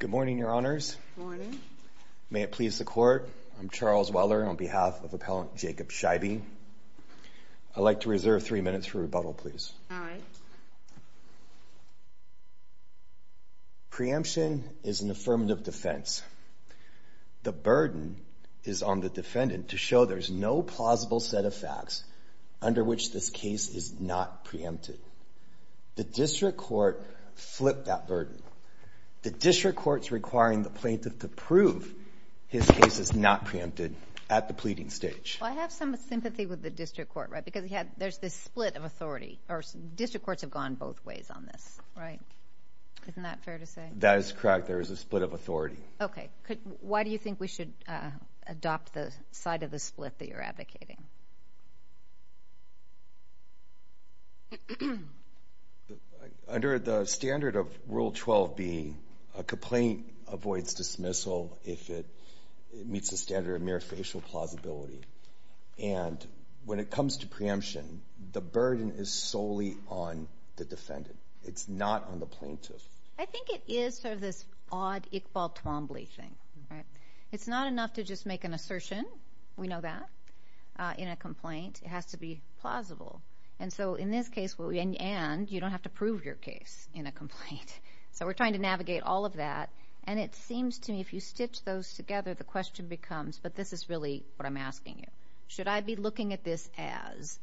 Good morning, your honors. May it please the court. I'm Charles Weller on behalf of Appellant Jacob Scheibe. I'd like to reserve three minutes for rebuttal, please. Preemption is an affirmative defense. The burden is on the defendant to show there's no plausible set of facts under which this case is not preempted. The district court flipped that burden. The district court's requiring the plaintiff to prove his case is not preempted at the pleading stage. I have some sympathy with the district court, right, because he had, there's this split of authority, or district courts have gone both ways on this, right? Isn't that fair to say? That is correct, there is a split of authority. Okay, why do you think we should adopt the side of the split that you're advocating? Under the standard of Rule 12b, a complaint avoids dismissal if it meets the standard of mere facial plausibility, and when it comes to preemption, the burden is solely on the defendant. It's not on the plaintiff. I think it is sort of this odd Iqbal Twombly thing, right? It's not enough to just make an assertion, we know that, in a complaint. It has to be plausible, and so in this case, and you don't have to prove your case in a complaint, so we're trying to navigate all of that, and it seems to me if you stitch those together, the question becomes, but this is really what I'm asking you, should I be looking at this as,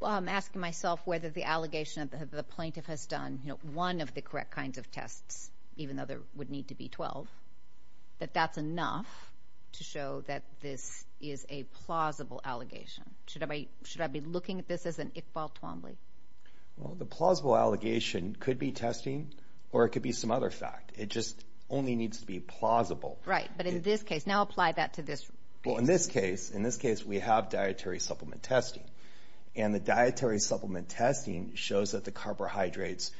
well I'm asking myself whether the allegation of the plaintiff has done, you know, one of the correct kinds of tests, even though there would need to be 12, that that's enough to show that this is a plausible allegation. Should I be looking at this as an Iqbal Twombly? Well, the plausible allegation could be testing, or it could be some other fact. It just only needs to be plausible. Right, but in this case, now apply that to this. Well, in this case, in this case, we have dietary supplement testing, and the dietary supplement testing shows that the carbohydrates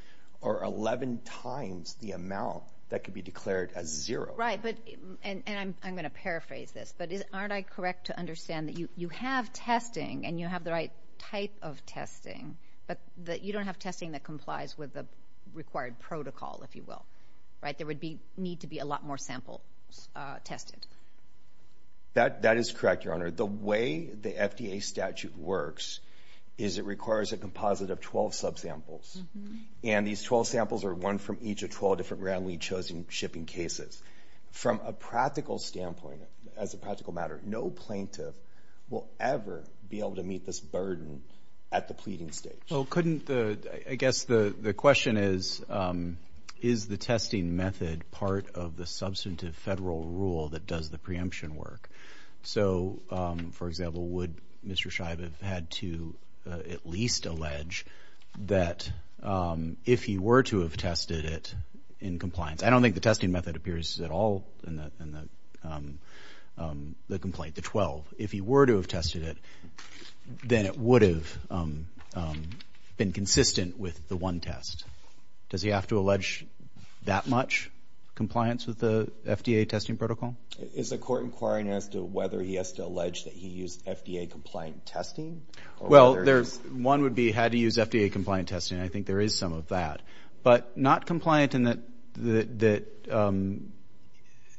are 11 times the amount that could be declared as zero. Right, but, and I'm going to paraphrase this, but aren't I correct to understand that you have testing, and you have the right type of testing, but that you don't have testing that complies with the required protocol, if you will, right? There would be need to be a lot more samples tested. That is correct, Your Honor. The way the FDA statute works is it requires a composite of 12 subsamples, and these 12 samples are one from each of 12 different roundly chosen shipping cases. From a practical standpoint, as a practical matter, no plaintiff will ever be able to meet this burden at the pleading stage. Well, couldn't the, I guess the the question is, is the testing method part of the substantive federal rule that does the preemption work? So, for example, would Mr. Scheib have had to at least allege that if he were to have tested it in compliance, I don't think the testing method appears at all in the complaint, the 12. If he were to have tested it, then it would have been consistent with the one test. Does he have to allege that much compliance with the FDA testing protocol? Is the court inquiring as to whether he has to allege that he used FDA compliant testing? Well, there's, one would be had he used FDA compliant testing. I think there is some of that, but not compliant in that, that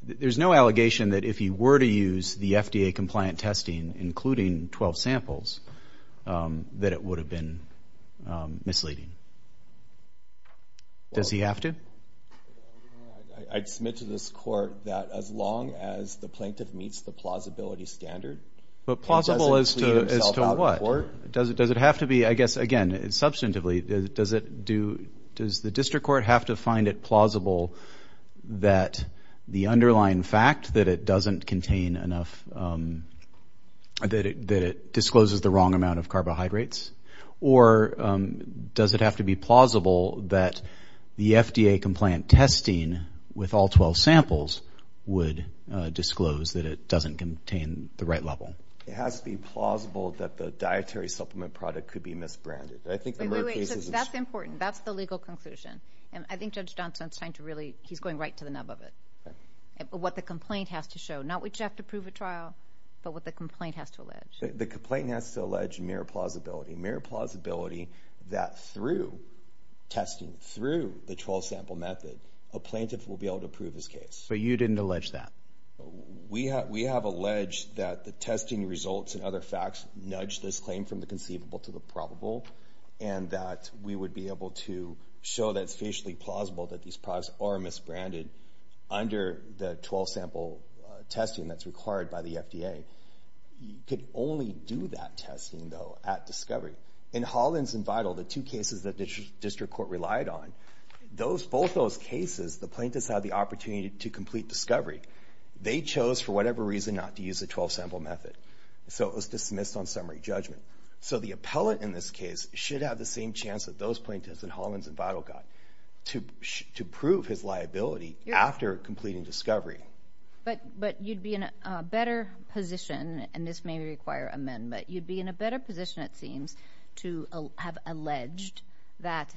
there's no allegation that if he were to use the FDA compliant testing, including 12 samples, that it would have been misleading. Does he have to? I'd submit to this court that as long as the plaintiff meets the plausibility standard. But plausible as to what? Does it have to be, I guess, again substantively, does it do, does the district court have to find it plausible that the underlying fact that it doesn't contain enough, that it discloses the wrong amount of carbohydrates? Or does it have to be plausible that the FDA compliant testing with all 12 samples would disclose that it doesn't contain the right level? It has to be plausible that the dietary supplement product could be misbranded. I think that's important. That's the legal conclusion. And I think Judge Johnson's trying to really, he's going right to the nub of it. What the complaint has to show, not what you have to prove at trial, but what the complaint has to allege. The complaint has to allege mere plausibility, mere plausibility that through testing, through the 12 sample method, a plaintiff will be able to prove his case. But you didn't allege that. We have, we have alleged that the testing results and other facts nudge this claim from the conceivable to the probable. And that we would be able to show that it's facially plausible that these products are misbranded under the 12 sample testing that's required by the FDA. You could only do that testing, though, at discovery. In Hollins and Vital, the two cases that the district court relied on, those, both those cases, the plaintiffs had the opportunity to complete discovery. They chose for whatever reason not to use the 12 sample method. So it was dismissed on summary judgment. So the appellate in this case should have the same chance that those plaintiffs in Hollins and Vital got to prove his liability after completing discovery. But, but you'd be in a better position, and this may require amendment, you'd be in a better position, it seems, to have alleged that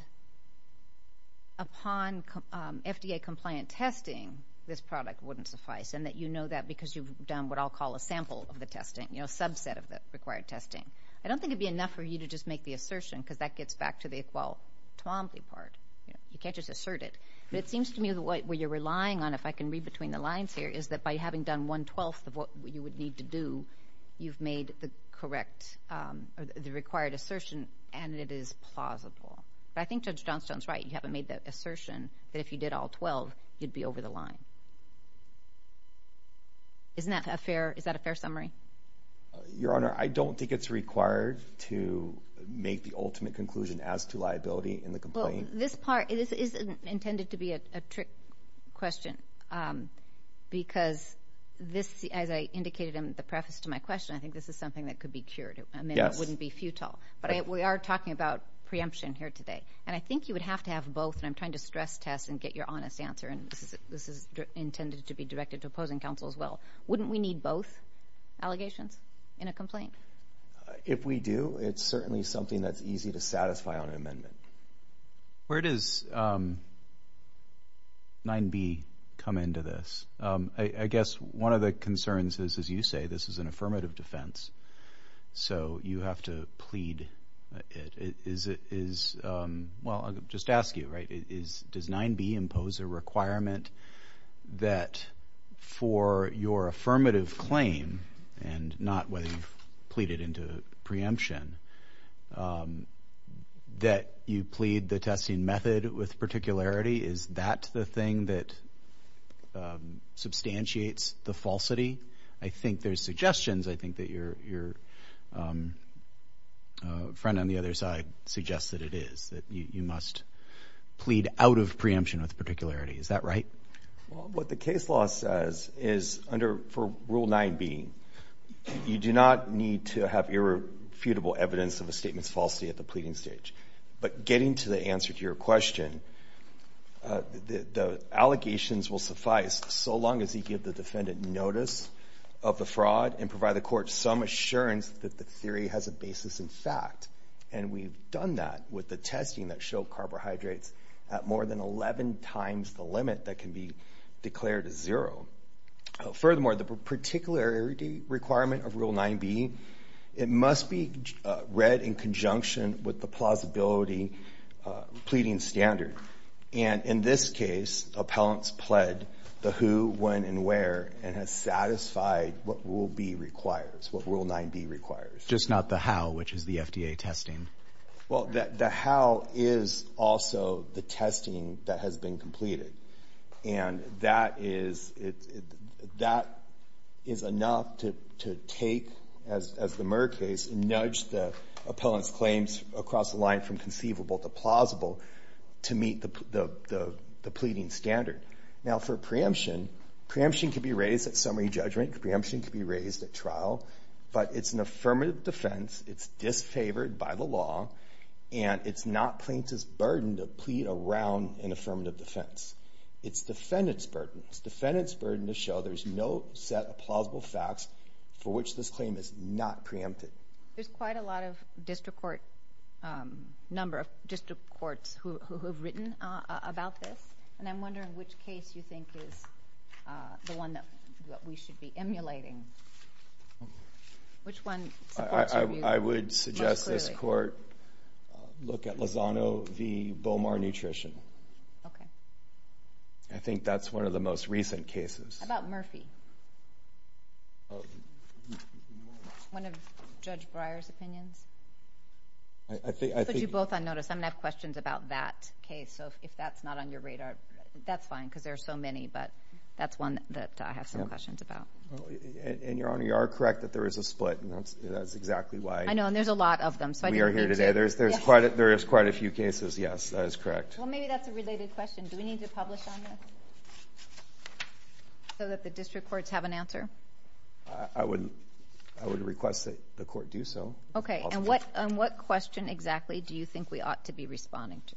upon FDA compliant testing, this product wouldn't suffice. And that you that because you've done what I'll call a sample of the testing, you know, subset of the required testing. I don't think it'd be enough for you to just make the assertion because that gets back to the equality part. You can't just assert it. But it seems to me that what you're relying on, if I can read between the lines here, is that by having done one twelfth of what you would need to do, you've made the correct, the required assertion, and it is plausible. But I think Judge Johnstone's right. You haven't made the assertion that if you did all 12, you'd be over the line. Isn't that a fair, is that a fair summary? Your Honor, I don't think it's required to make the ultimate conclusion as to liability in the complaint. This part is intended to be a trick question. Um, because this, as I indicated in the preface to my question, I think this is something that could be cured. I mean, it wouldn't be futile. But we are talking about preemption here today, and I think you would have to have both. And I'm trying to stress test and get your honest answer. And this is intended to be directed to opposing counsel as well. Wouldn't we need both allegations in a complaint? If we do, it's certainly something that's easy to satisfy on an amendment. Where does 9B come into this? I guess one of the concerns is, as you say, this is an affirmative defense, so you have to plead it. Is it, is, well, I'll just ask you, right, is, does 9B impose a requirement that for your affirmative claim, and not whether you've pleaded into preemption, that you plead the testing method with particularity? Is that the thing that substantiates the falsity? I think there's suggestions. I think that your, your friend on the other side suggests that it is, that you must plead out of preemption with particularity. Is that right? Well, what the case law says is under, for Rule 9B, you do not need to have irrefutable evidence of a statement's falsity at the pleading stage. But getting to the answer to your question, the allegations will suffice so long as you give the defendant notice of the fraud and provide the court some assurance that the theory has a basis in fact. And we've done that with the testing that showed carbohydrates at more than 11 times the limit that can be declared as zero. Furthermore, the particularity requirement of Rule 9B, it must be read in conjunction with the plausibility pleading standard. And in this case, appellants pled the who, when, and where, and has satisfied what Rule B requires, what Rule 9B requires. Just not the how, which is the FDA testing. Well, the how is also the testing that has been completed. And that is, that is enough to take, as the Murr case, and nudge the appellant's claims across the line from conceivable to plausible to meet the pleading standard. Now, for preemption, preemption can be raised at summary judgment. Preemption can be raised at trial, but it's an affirmative defense, it's disfavored by the law, and it's not plaintiff's burden to plead around an affirmative defense. It's defendant's burden. It's defendant's burden to show there's no set of plausible facts for which this claim is not preempted. There's quite a lot of district court, number of district courts who have written about this, and I'm wondering which case you think is the one that we should be emulating. Which one supports your view most clearly? I would suggest this court look at Lozano v. Bomar Nutrition. Okay. I think that's one of the most recent cases. How about Murphy? One of Judge Breyer's opinions? I think... Put you both on notice. I'm gonna have questions about that case, so if that's not on your radar, that's fine, because there are so many, but that's one that I have some questions about. And Your Honor, you are correct that there is a split, and that's exactly why... I know, and there's a lot of them, so I didn't mean to... We are here today. There's quite a few cases. Yes, that is correct. Well, maybe that's a related question. Do we need to publish on this? So that the district courts have an answer? I would request that the court do so. Okay. And what question exactly do you think we ought to be responding to?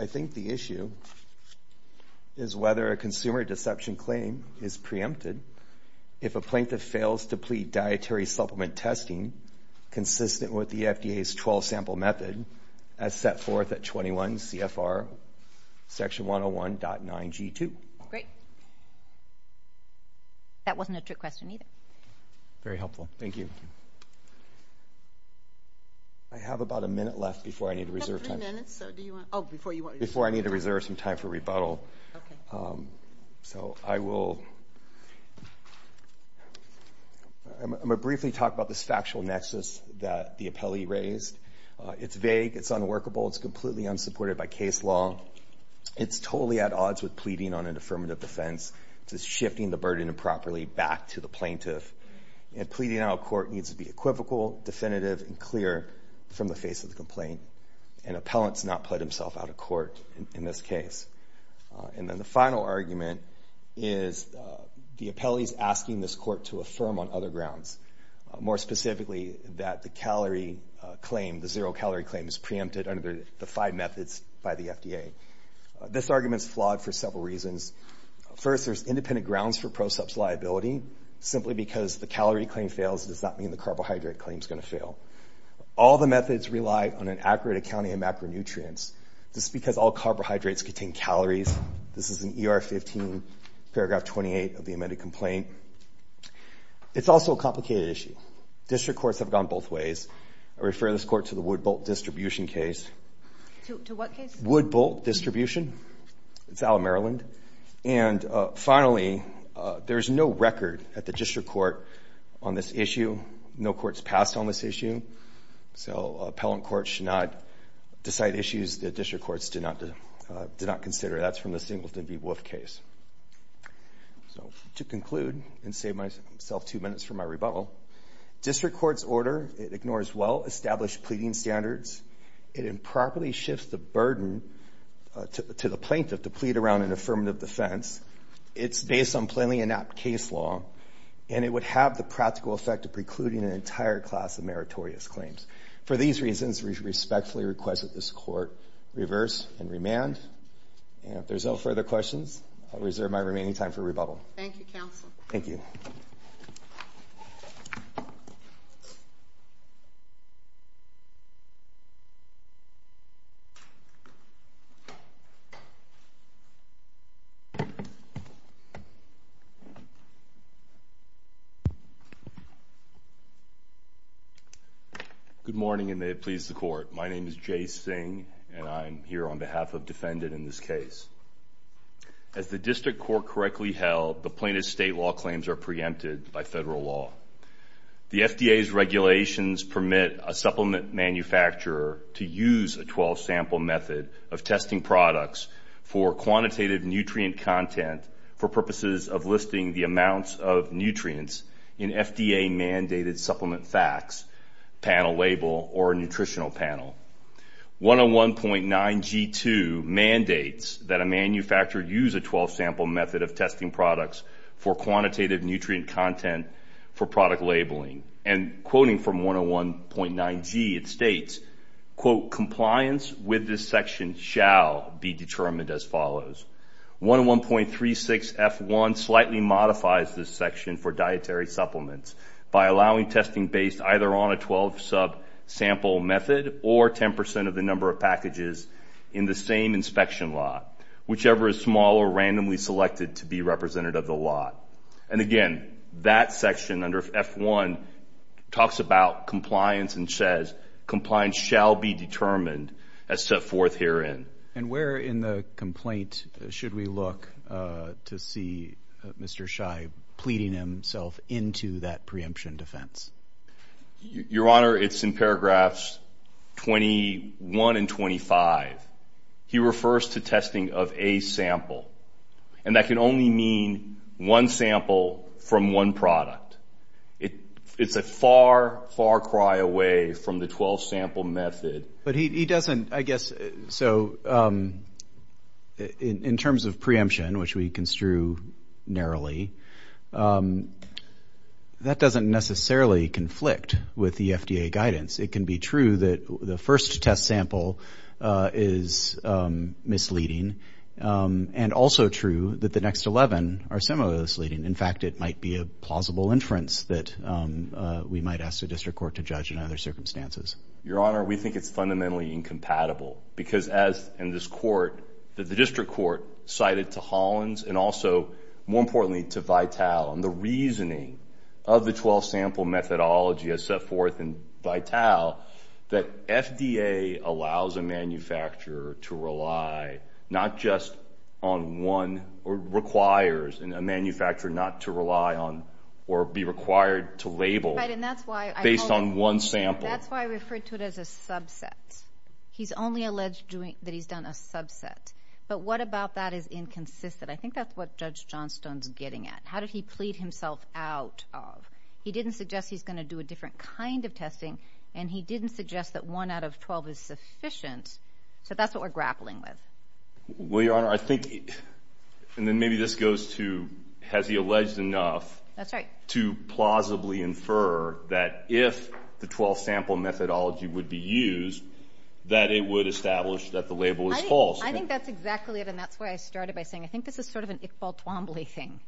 I think the issue is whether a consumer deception claim is preempted if a plaintiff fails to plead dietary supplement testing consistent with the FDA's 12 sample method as set forth at 21 CFR Section 101.9G2. Great. That wasn't a trick question either. Very helpful. Thank you. I have about a minute left before I need to reserve time. You have three minutes, so do you want... Oh, before you want to... Before I need to reserve time, I'll... Okay. So I will... I'm gonna briefly talk about this factual nexus that the appellee raised. It's vague. It's unworkable. It's completely unsupported by case law. It's totally at odds with pleading on an affirmative defense. It's just shifting the burden improperly back to the plaintiff. And pleading out of court needs to be equivocal, definitive, and clear from the face of the complaint. An appellant's not pled himself out of court in this case. And then the final argument is the appellee's asking this court to affirm on other grounds. More specifically, that the calorie claim, the zero calorie claim is preempted under the five methods by the FDA. This argument's flawed for several reasons. First, there's independent grounds for pro-sup's liability. Simply because the calorie claim fails does not mean the carbohydrate claim's gonna fail. All the methods rely on an accurate accounting of macronutrients. This is because all carbohydrates contain calories. This is in ER 15, paragraph 28 of the amended complaint. It's also a complicated issue. District courts have gone both ways. I refer this court to the Woodbolt distribution case. To what case? Woodbolt distribution. It's Allen, Maryland. And finally, there's no record at the appellant court should not decide issues that district courts did not consider. That's from the Singleton v. Wolfe case. So to conclude, and save myself two minutes for my rebuttal, district court's order, it ignores well established pleading standards. It improperly shifts the burden to the plaintiff to plead around an affirmative defense. It's based on plainly inept case law. And it would have the practical effect of precluding an entire class of notorious claims. For these reasons, we respectfully request that this court reverse and remand. And if there's no further questions, I'll reserve my remaining time for rebuttal. Thank you, Counsel. Thank you. Good morning, and may it please the court. My name is Jay Singh, and I'm here on behalf of defendant in this case. As the district court correctly held, the plaintiff's state law claims are preempted by federal law. The FDA's regulations permit a supplement manufacturer to use a 12-sample method of testing products for quantitative nutrient content for purposes of listing the amounts of nutrients in FDA mandated supplement facts, panel label, or nutritional panel. 101.9G2 mandates that a manufacturer use a 12-sample method of testing products for quantitative nutrient content for product labeling. And quoting from 101.9G, it states, quote, compliance with this section shall be determined as follows. 101.36F1 slightly modifies this section for dietary supplements by allowing testing based either on a 12-sub sample method or 10% of the number of packages in the same inspection lot, whichever is small or randomly selected to be representative of the lot. And again, that section under F1 talks about compliance and says, compliance shall be determined as set forth herein. And where in the complaint should we look to see Mr. Shy pleading himself into that preemption defense? Your honor, it's in paragraphs 21 and 25. He refers to testing of a sample, and that can only mean one sample from one product. It's a far, far cry away from the 12-sample method. But he doesn't, I guess, so in terms of preemption, which we construe narrowly, that doesn't necessarily conflict with the FDA guidance. It can be true that the first test sample is misleading, and also true that the next 11 are similarly misleading. In fact, it might be a plausible inference that we might ask the district court to judge in other circumstances. Your honor, we think it's fundamentally incompatible. Because as in this court, the district court cited to Hollins, and also more importantly to Vital, and the reasoning of the 12-sample methodology as set forth in Vital, that FDA allows a manufacturer to rely not just on one, or requires a manufacturer not to rely on or be required to label based on one sample. That's why I referred to it as a subset. He's only alleged that he's done a subset. But what about that is inconsistent? I think that's what Judge Johnstone's getting at. How did he plead himself out of? He didn't suggest he's going to do a different kind of testing, and he didn't suggest that one out of twelve is sufficient. So that's what we're grappling with. Well, your honor, I think, and then maybe this goes to, has he alleged enough to plausibly infer that if the 12-sample methodology would be used, that it would establish that the label is false? I think that's exactly it, and that's why I started by saying, I think this is sort of an Iqbal Twombly thing,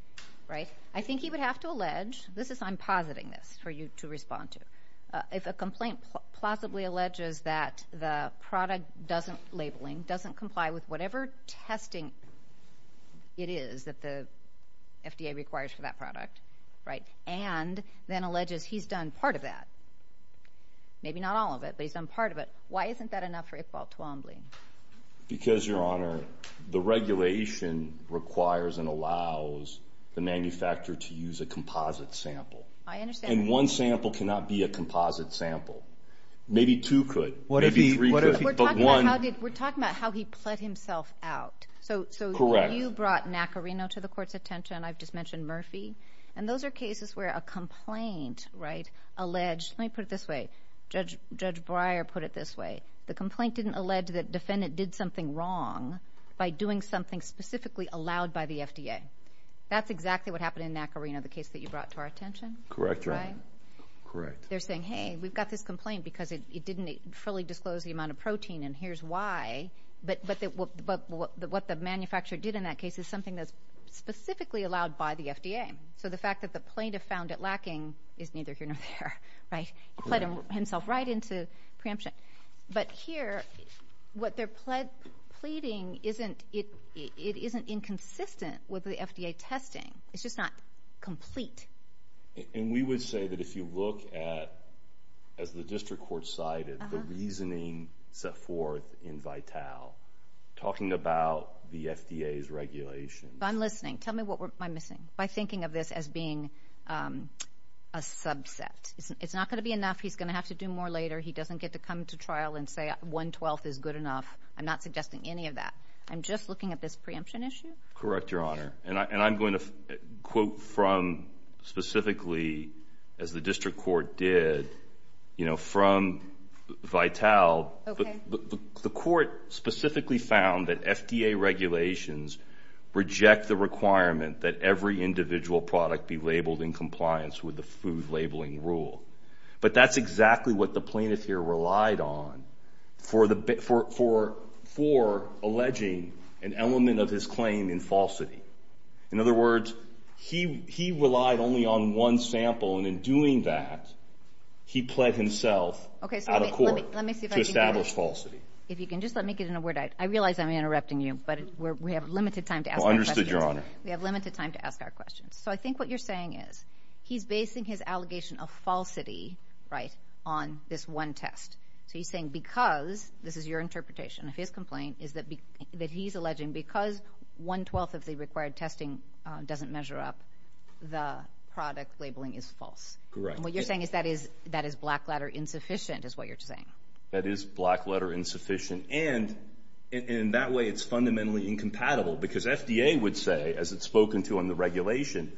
right? I think he would have to allege, this is, I'm positing this for you to respond to, if a complaint plausibly alleges that the product doesn't, labeling, doesn't comply with whatever testing it is that the FDA requires for that product, right? And then alleges he's done part of that. Maybe not all of it, but he's done part of it. Why isn't that enough for Iqbal Twombly? Because, your honor, the regulation requires and allows the manufacturer to use a composite sample. I understand. And one sample cannot be a composite sample. Maybe two could. What if he, what if he, but one. We're talking about how did, we're talking about how he pled himself out. So, so. Correct. You brought Nacarino to the court's attention, I've just mentioned Murphy. And those are cases where a complaint, right, alleged, let me put it this way. Judge, Judge Breyer put it this way. The complaint didn't allege that defendant did something wrong by doing something specifically allowed by the FDA. That's exactly what happened in Nacarino, the case that you brought to our attention. Correct, your honor. Right? Correct. They're saying, hey, we've got this complaint because it didn't fully disclose the amount of protein and here's why. But, but, but what the manufacturer did in that case is something that's specifically allowed by the FDA. So the fact that the plaintiff found it lacking is neither here nor there, right? He pled himself right into preemption. But here, what they're pled, pleading isn't, it, it isn't inconsistent with the FDA testing. It's just not complete. And we would say that if you look at, as the district court cited, the reasoning set forth in Vitale, talking about the FDA's regulations. If I'm listening, tell me what am I missing? By thinking of this as being, um, a subset. It's not gonna be enough. He's gonna have to do more later. He doesn't get to come to trial and say 1 12th is good enough. I'm not suggesting any of that. I'm just looking at this preemption issue. Correct, your honor. And I'm going to quote from specifically, as the district court did, you know, from Vitale, the court specifically found that FDA regulations reject the requirement that every individual product be labeled in compliance with the food labeling rule. But that's exactly what the plaintiff here relied on for the, for, for, for alleging an element of his claim in falsity. In other words, he, he relied only on one sample. And in doing that, he pled himself out of court to establish in a word. I realize I'm interrupting you, but we have limited time to understood your honor. We have limited time to ask our questions. So I think what you're saying is he's basing his allegation of falsity right on this one test. So you're saying because this is your interpretation of his complaint is that that he's alleging because 1 12th of the required testing doesn't measure up the product labeling is false. What you're saying is that is that is black ladder insufficient is what you're saying. That is black letter insufficient. And in that way, it's fundamentally incompatible because FDA would say, as it's spoken to on the regulation,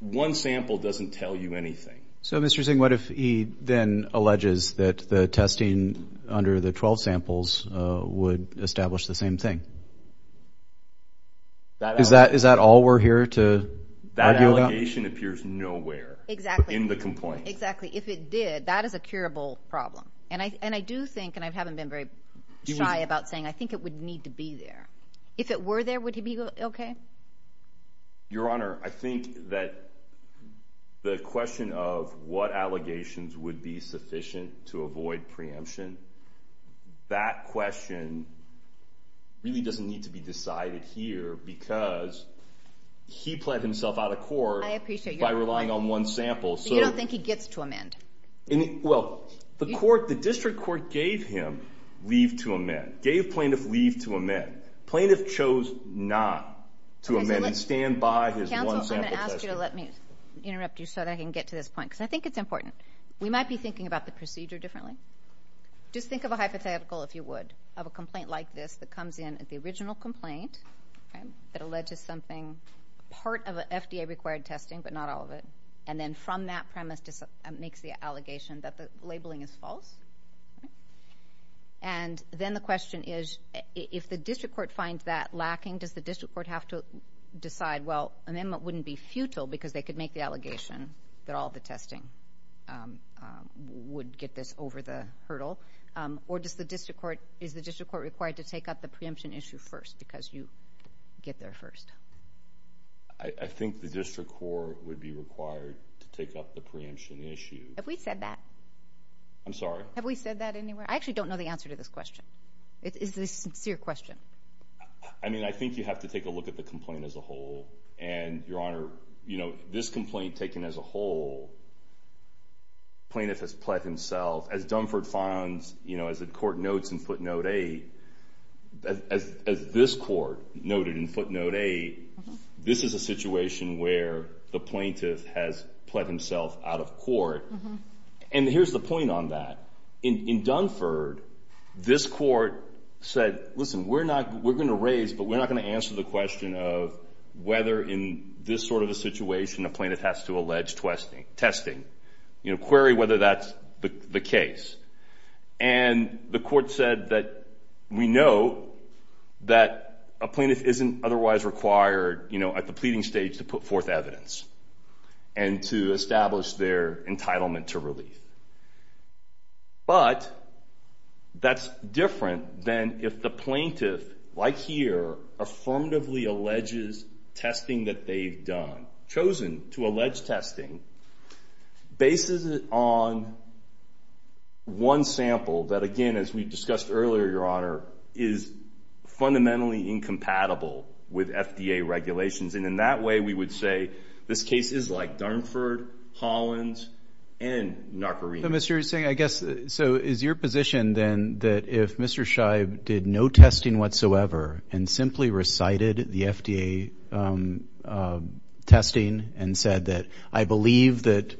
one sample doesn't tell you anything. So, Mr Singh, what if he then alleges that the testing under the 12 samples would establish the same thing? Is that is that all we're here to that allegation appears nowhere in the complaint. Exactly. If it did, that is a curable problem. And I and I do think and I haven't been very shy about saying I think it would need to be there. If it were there, would he be okay? Your honor, I think that the question of what allegations would be sufficient to avoid preemption. That question really doesn't need to be decided here because he played himself out of court by relying on one sample. So you don't think he gets to amend? Well, the court, the district court gave him leave to amend, gave plaintiff leave to amend. Plaintiff chose not to amend and stand by his one sample. Let me interrupt you so that I can get to this point because I think it's important. We might be thinking about the procedure differently. Just think of a hypothetical if you would have a complaint like this that comes in at the original complaint that alleged to something part of FDA required testing, but not all of it. And then from that premise makes the allegation that the labeling is false. And then the question is, if the district court finds that lacking, does the district court have to decide? Well, and then it wouldn't be futile because they could make the allegation that all the testing would get this over the hurdle. Or does the district court? Is the district court required to take up the preemption issue first because you get there first? I think the district court would be required to take up the preemption issue. Have we said that I'm sorry. Have we said that anywhere? I actually don't know the answer to this question. It is this sincere question. I mean, I think you have to take a look at the complaint as a whole and your honor, you know, this complaint taken as a whole plaintiff has pled himself as Dunford funds, you know, as the court notes in footnote eight as this court noted in footnote eight. This is a situation where the plaintiff has pled himself out of court. And here's the point on that. In Dunford, this court said, Listen, we're not we're gonna raise, but we're not gonna answer the question of whether in this sort of a situation, a plaintiff has to allege twisting testing, you know, query whether that's the case. And the court said that we know that a plaintiff isn't otherwise required, you know, at the pleading stage to put forth evidence and to establish their entitlement to relief. But that's different than if the plaintiff, like here, affirmatively alleges testing that they've done, chosen to allege testing bases on one sample that again, as we discussed earlier, your honor, is fundamentally incompatible with FDA regulations. And in that way, we would say this case is like Dunford, Hollins and Narcorine. Mr. Singh, I guess. So is your position then that if Mr Scheib did no testing whatsoever and simply recited the FDA, um, testing and said that I believe that,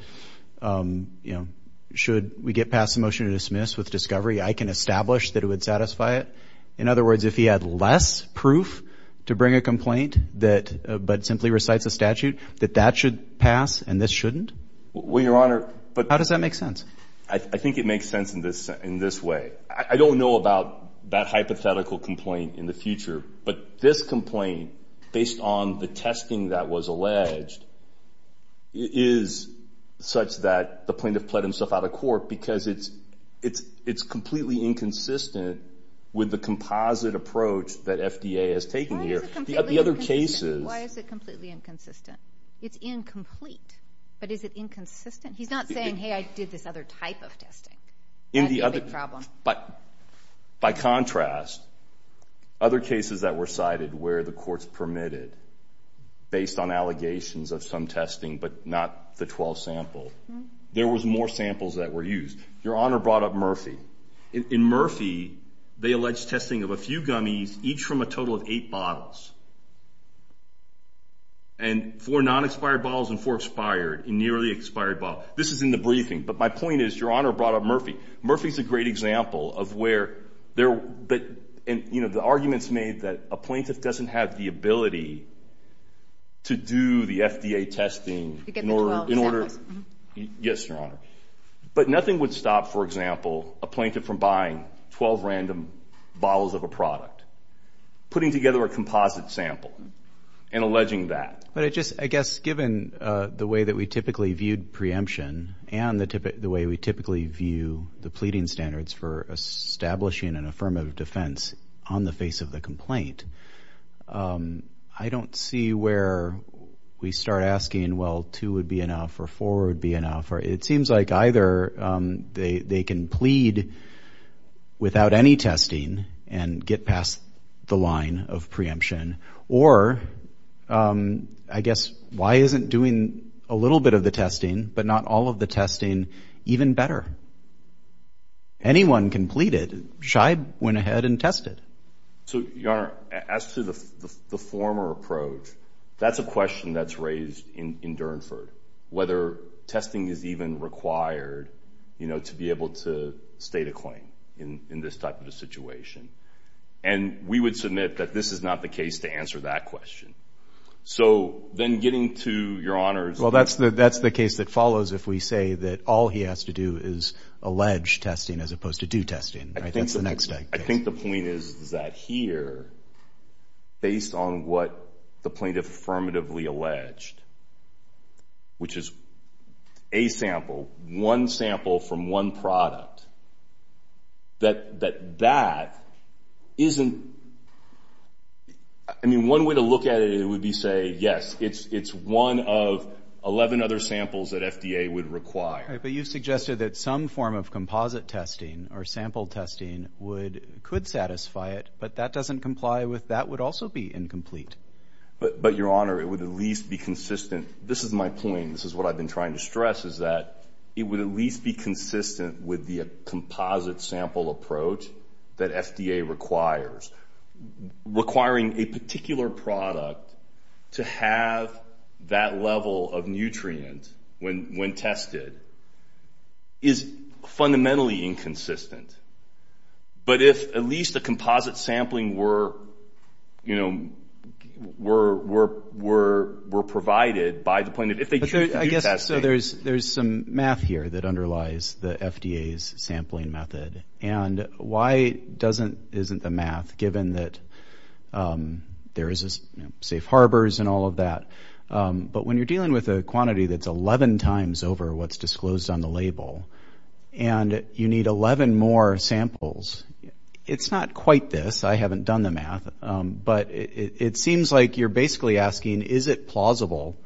um, you know, should we get past the motion to dismiss with discovery? I can establish that it would satisfy it. In other words, if he had less proof to bring a complaint that but simply recites a statute that that should pass and this shouldn't well, your honor. But how does that make sense? I think it makes sense in this in this way. I don't know about that hypothetical complaint in the future, but this complaint based on the testing that was alleged is such that the plaintiff put himself out of court because it's it's it's completely inconsistent with the composite approach that FDA has taken here. The other cases. Why is it completely inconsistent? It's incomplete. But is it inconsistent? He's not saying, Hey, I did this other type of testing in the other problem. But by contrast, other cases that were cited where the courts permitted based on allegations of some testing, but not the 12 sample, there was more samples that were used. Your honor brought up Murphy. In Murphy, they alleged testing of a few gummies, each from a total of eight bottles and four non expired balls and four expired nearly expired. But this is in the briefing. But my point is, your honor brought up Murphy. Murphy is a great example of where there. But you know, the arguments made that a plaintiff doesn't have the ability to do the FDA testing in order in order. Yes, your honor. But nothing would stop, for example, a plaintiff from buying 12 random bottles of a product, putting together a composite sample and alleging that. But I just I guess, given the way that we typically viewed preemption and the way we typically view the pleading standards for establishing an affirmative defense on the face of the complaint, I don't see where we start asking. Well, two would be enough or four would be enough, or it seems like either they can plead without any testing and get past the line of preemption. Or I guess, why isn't doing a little bit of the testing, but not all of the testing even better? Anyone can plead it. Scheib went ahead and tested. So, your honor, as to the former approach, that's a question that's raised in in Durnford, whether testing is even required, you know, to be able to state a claim in this type of a situation. And we would submit that this is not the case to answer that question. So then getting to your honors. Well, that's the that's the case that follows. If we say that all he has to do is allege testing as opposed to do testing. I think the next I think the point is that here, based on what the plaintiff affirmatively alleged, which is a sample one sample from one product that that that isn't. I mean, one way to look at it, it would be say, Yes, it's it's one of 11 other samples that FDA would require. But you suggested that some form of composite testing or sample testing would could satisfy it. But that doesn't comply with that would also be incomplete. But But your honor, it would at least be consistent. This is my point. This is what I've been trying to stress is that it would at least be consistent with the composite sample approach that FDA requires requiring a particular product to have that level of nutrient when when tested is fundamentally inconsistent. But if at least the composite sampling were, you know, we're we're we're we're provided by the point that if they could, I guess so there's there's some math here that underlies the FDA's sampling method. And why doesn't isn't the math given that there is a safe harbors and all of that. But when you're dealing with a quantity that's 11 times over what's disclosed on the label, and you need 11 more samples, it's not quite this. I haven't done the math. But it seems like you're basically asking, Is it plausible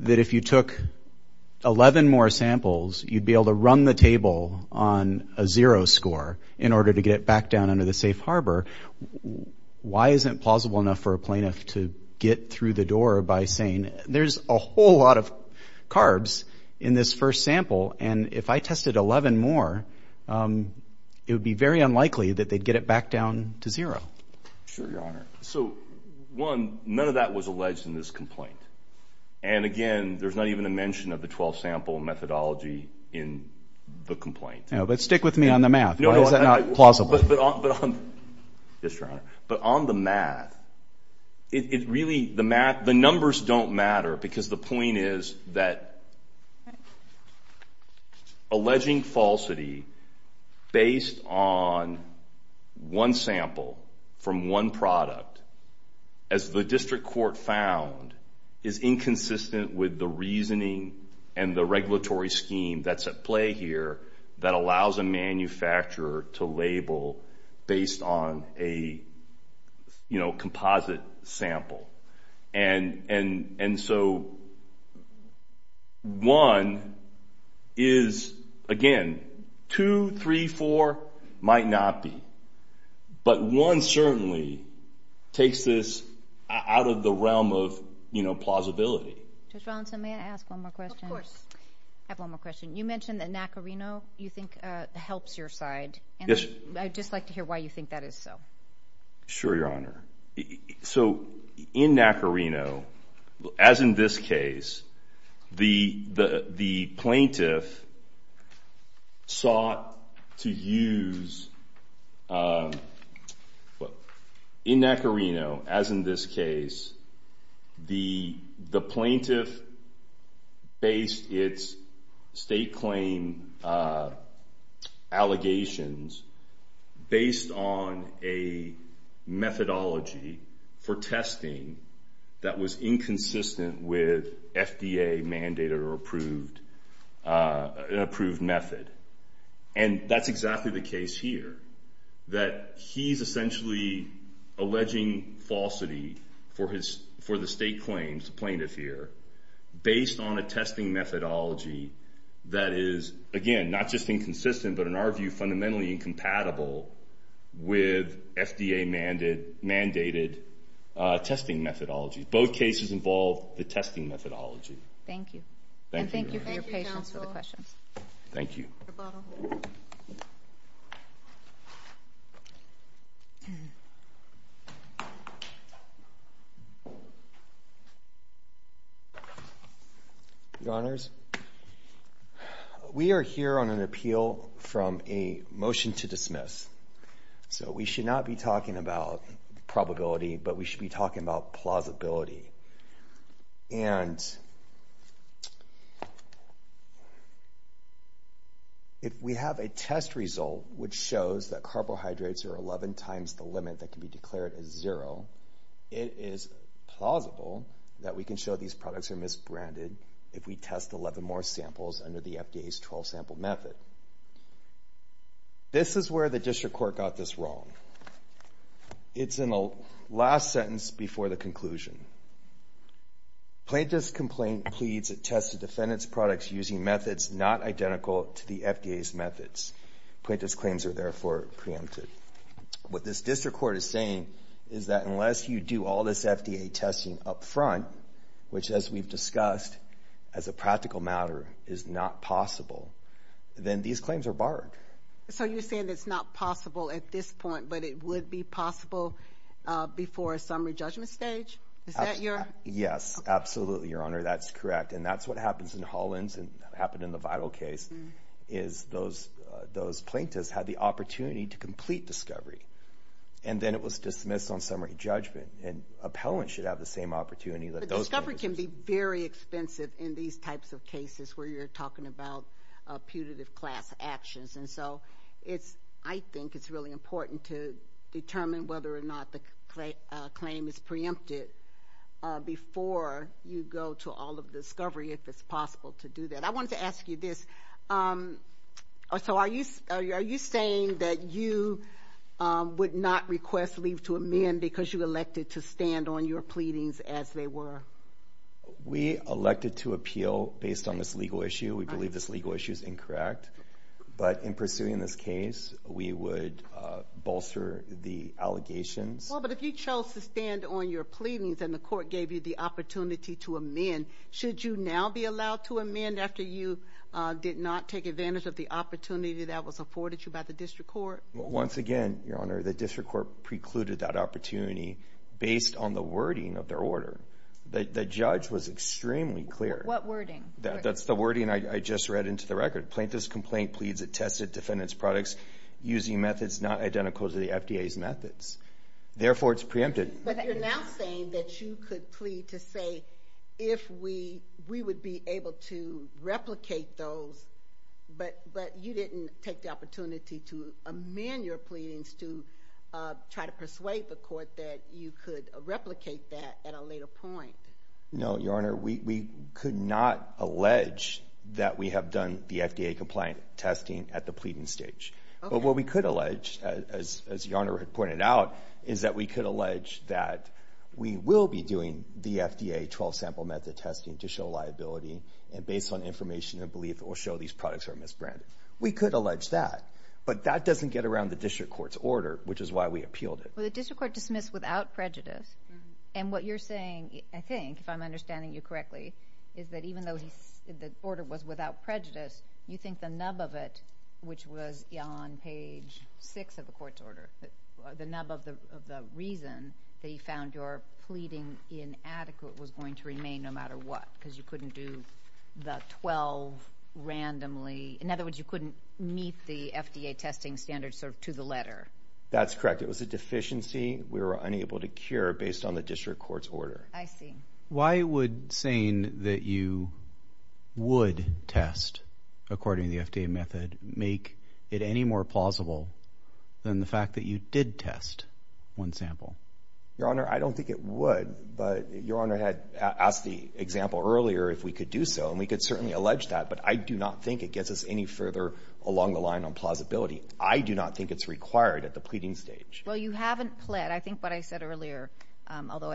that if you took 11 more samples, you'd be able to run the table on a zero score in order to get back down under the safe harbor? Why isn't plausible enough for a plaintiff to get through the or by saying there's a whole lot of carbs in this first sample. And if I tested 11 more, um, it would be very unlikely that they get it back down to zero. Sure, Your Honor. So one, none of that was alleged in this complaint. And again, there's not even a mention of the 12 sample methodology in the complaint. But stick with me on the math. No, it's not plausible. But on the math, it really, the math, the numbers don't matter. Because the point is that alleging falsity based on one sample from one product, as the district court found, is inconsistent with the reasoning and the regulatory scheme that's at play here that allows a manufacturer to label based on a, you know, composite sample. And so one is, again, 2, 3, 4 might not be. But one certainly takes this out of the realm of, you know, plausibility. Judge you mentioned that Nacarino, you think, helps your side. Yes. I'd just like to hear why you think that is so. Sure, Your Honor. So in Nacarino, as in this case, the plaintiff sought to use, well, in Nacarino, as in this case, the plaintiff based its state claim allegations based on a methodology for testing that was inconsistent with FDA mandated or approved method. And that's exactly the case here. That he's essentially alleging falsity for the state claims, the plaintiff here, based on a testing methodology that is, again, not just inconsistent, but in our view, fundamentally incompatible with FDA mandated testing methodology. Both cases involve the testing methodology. Thank you. And thank you for your patience with the questions. Thank you. Your Honors, we are here on an appeal from a motion to dismiss. So we should not be talking about probability, but we should be talking about plausibility. And if we have a test result which shows that carbohydrates are 11 times the limit that can be declared as zero, it is plausible that we can show these products are misbranded if we test 11 more samples under the FDA's 12-sample method. This is where the district court got this wrong. It's in the last sentence before the conclusion. Plaintiff's complaint pleads it tested defendant's products using methods not identical to the FDA's methods. Plaintiff's claims are therefore preempted. What this district court is saying is that unless you do all this FDA testing up front, which, as we've discussed, as a practical matter, is not possible, then these claims are barred. So you're saying it's not possible at this point, but it would be possible before a summary judgment stage? Is that your... Yes. Absolutely, Your Honor. That's correct. And that's what happens in Hollins and happened in the vital case, is those plaintiffs had the opportunity to complete discovery. And then it was dismissed on summary judgment. And appellants should have the same opportunity that those plaintiffs... But discovery can be very expensive in these types of cases where you're talking about putative class actions. And so it's... I think it's really important to determine whether or not the claim is preempted before you go to all of the discovery, if it's possible to do that. I wanted to ask you this. So are you saying that you would not request leave to amend because you elected to stand on your pleadings as they were? We elected to appeal based on this legal issue. We believe this legal issue is incorrect. But in pursuing this case, we would bolster the allegations. Well, but if you chose to stand on your pleadings and the court gave you the opportunity to amend, should you now be allowed to amend after you did not take advantage of the opportunity that was afforded you by the district court? Once again, Your Honor, the district court precluded that opportunity based on the wording of their order. The judge was extremely clear. What wording? That's the wording I just read into the record. Plaintiff's complaint pleads it tested defendant's products using methods not identical to the FDA's methods. Therefore, it's preempted. But you're now saying that you could plead to say if we would be able to replicate those, but you didn't take the opportunity to amend your pleadings to try to persuade the court that you could replicate that at a later point. No, Your Honor, we could not allege that we have done the FDA compliant testing at the pleading stage. But what we could allege, as as your honor had pointed out, is that we could allege that we will be doing the FDA 12 sample method testing to show liability and based on information and belief will show these products are misbranded. We could allege that, but that doesn't get around the district court's order, which is why we appealed it. Well, the district court dismissed without prejudice. And what you're saying, I think, if I'm understanding you correctly, is that even though the order was without prejudice, you think the nub of it, which was on page six of the court's order, the nub of the reason they found your pleading inadequate was going to remain no matter what, because you couldn't do the 12 randomly. In other words, you couldn't meet the FDA testing standards served to the letter. That's correct. It was a deficiency. We were unable to cure based on the district court's order. I see. Why would saying that you would test according to the FDA method make it any more plausible than the fact that you did test one sample? Your Honor, I don't think it would, but your honor had asked the example earlier if we could do so, and we could certainly allege that. But I do not think it gets us any further along the line on plausibility. I do not think it's required at the pleading stage. Well, you haven't pled. I think what I said earlier, although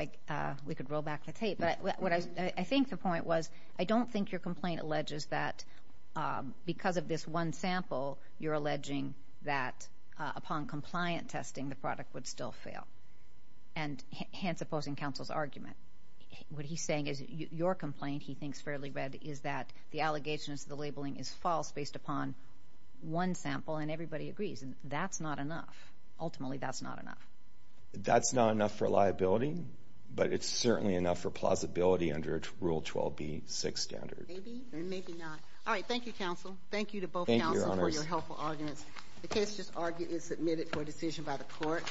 we could roll back the tape, but what I think the point was, I don't think your complaint alleges that because of this one sample, you're alleging that upon compliant testing, the product would still fail and hence opposing counsel's argument. What he's saying is your complaint, he thinks fairly read, is that the allegations of the labeling is false based upon one sample, and everybody agrees. And that's not enough. Ultimately, that's not enough. That's not enough for liability, but it's certainly enough for plausibility under a rule 12B6 standard. Maybe or maybe not. All right. Thank you, counsel. Thank you to both counsel for your helpful arguments. The case just argued is submitted for decision by the court.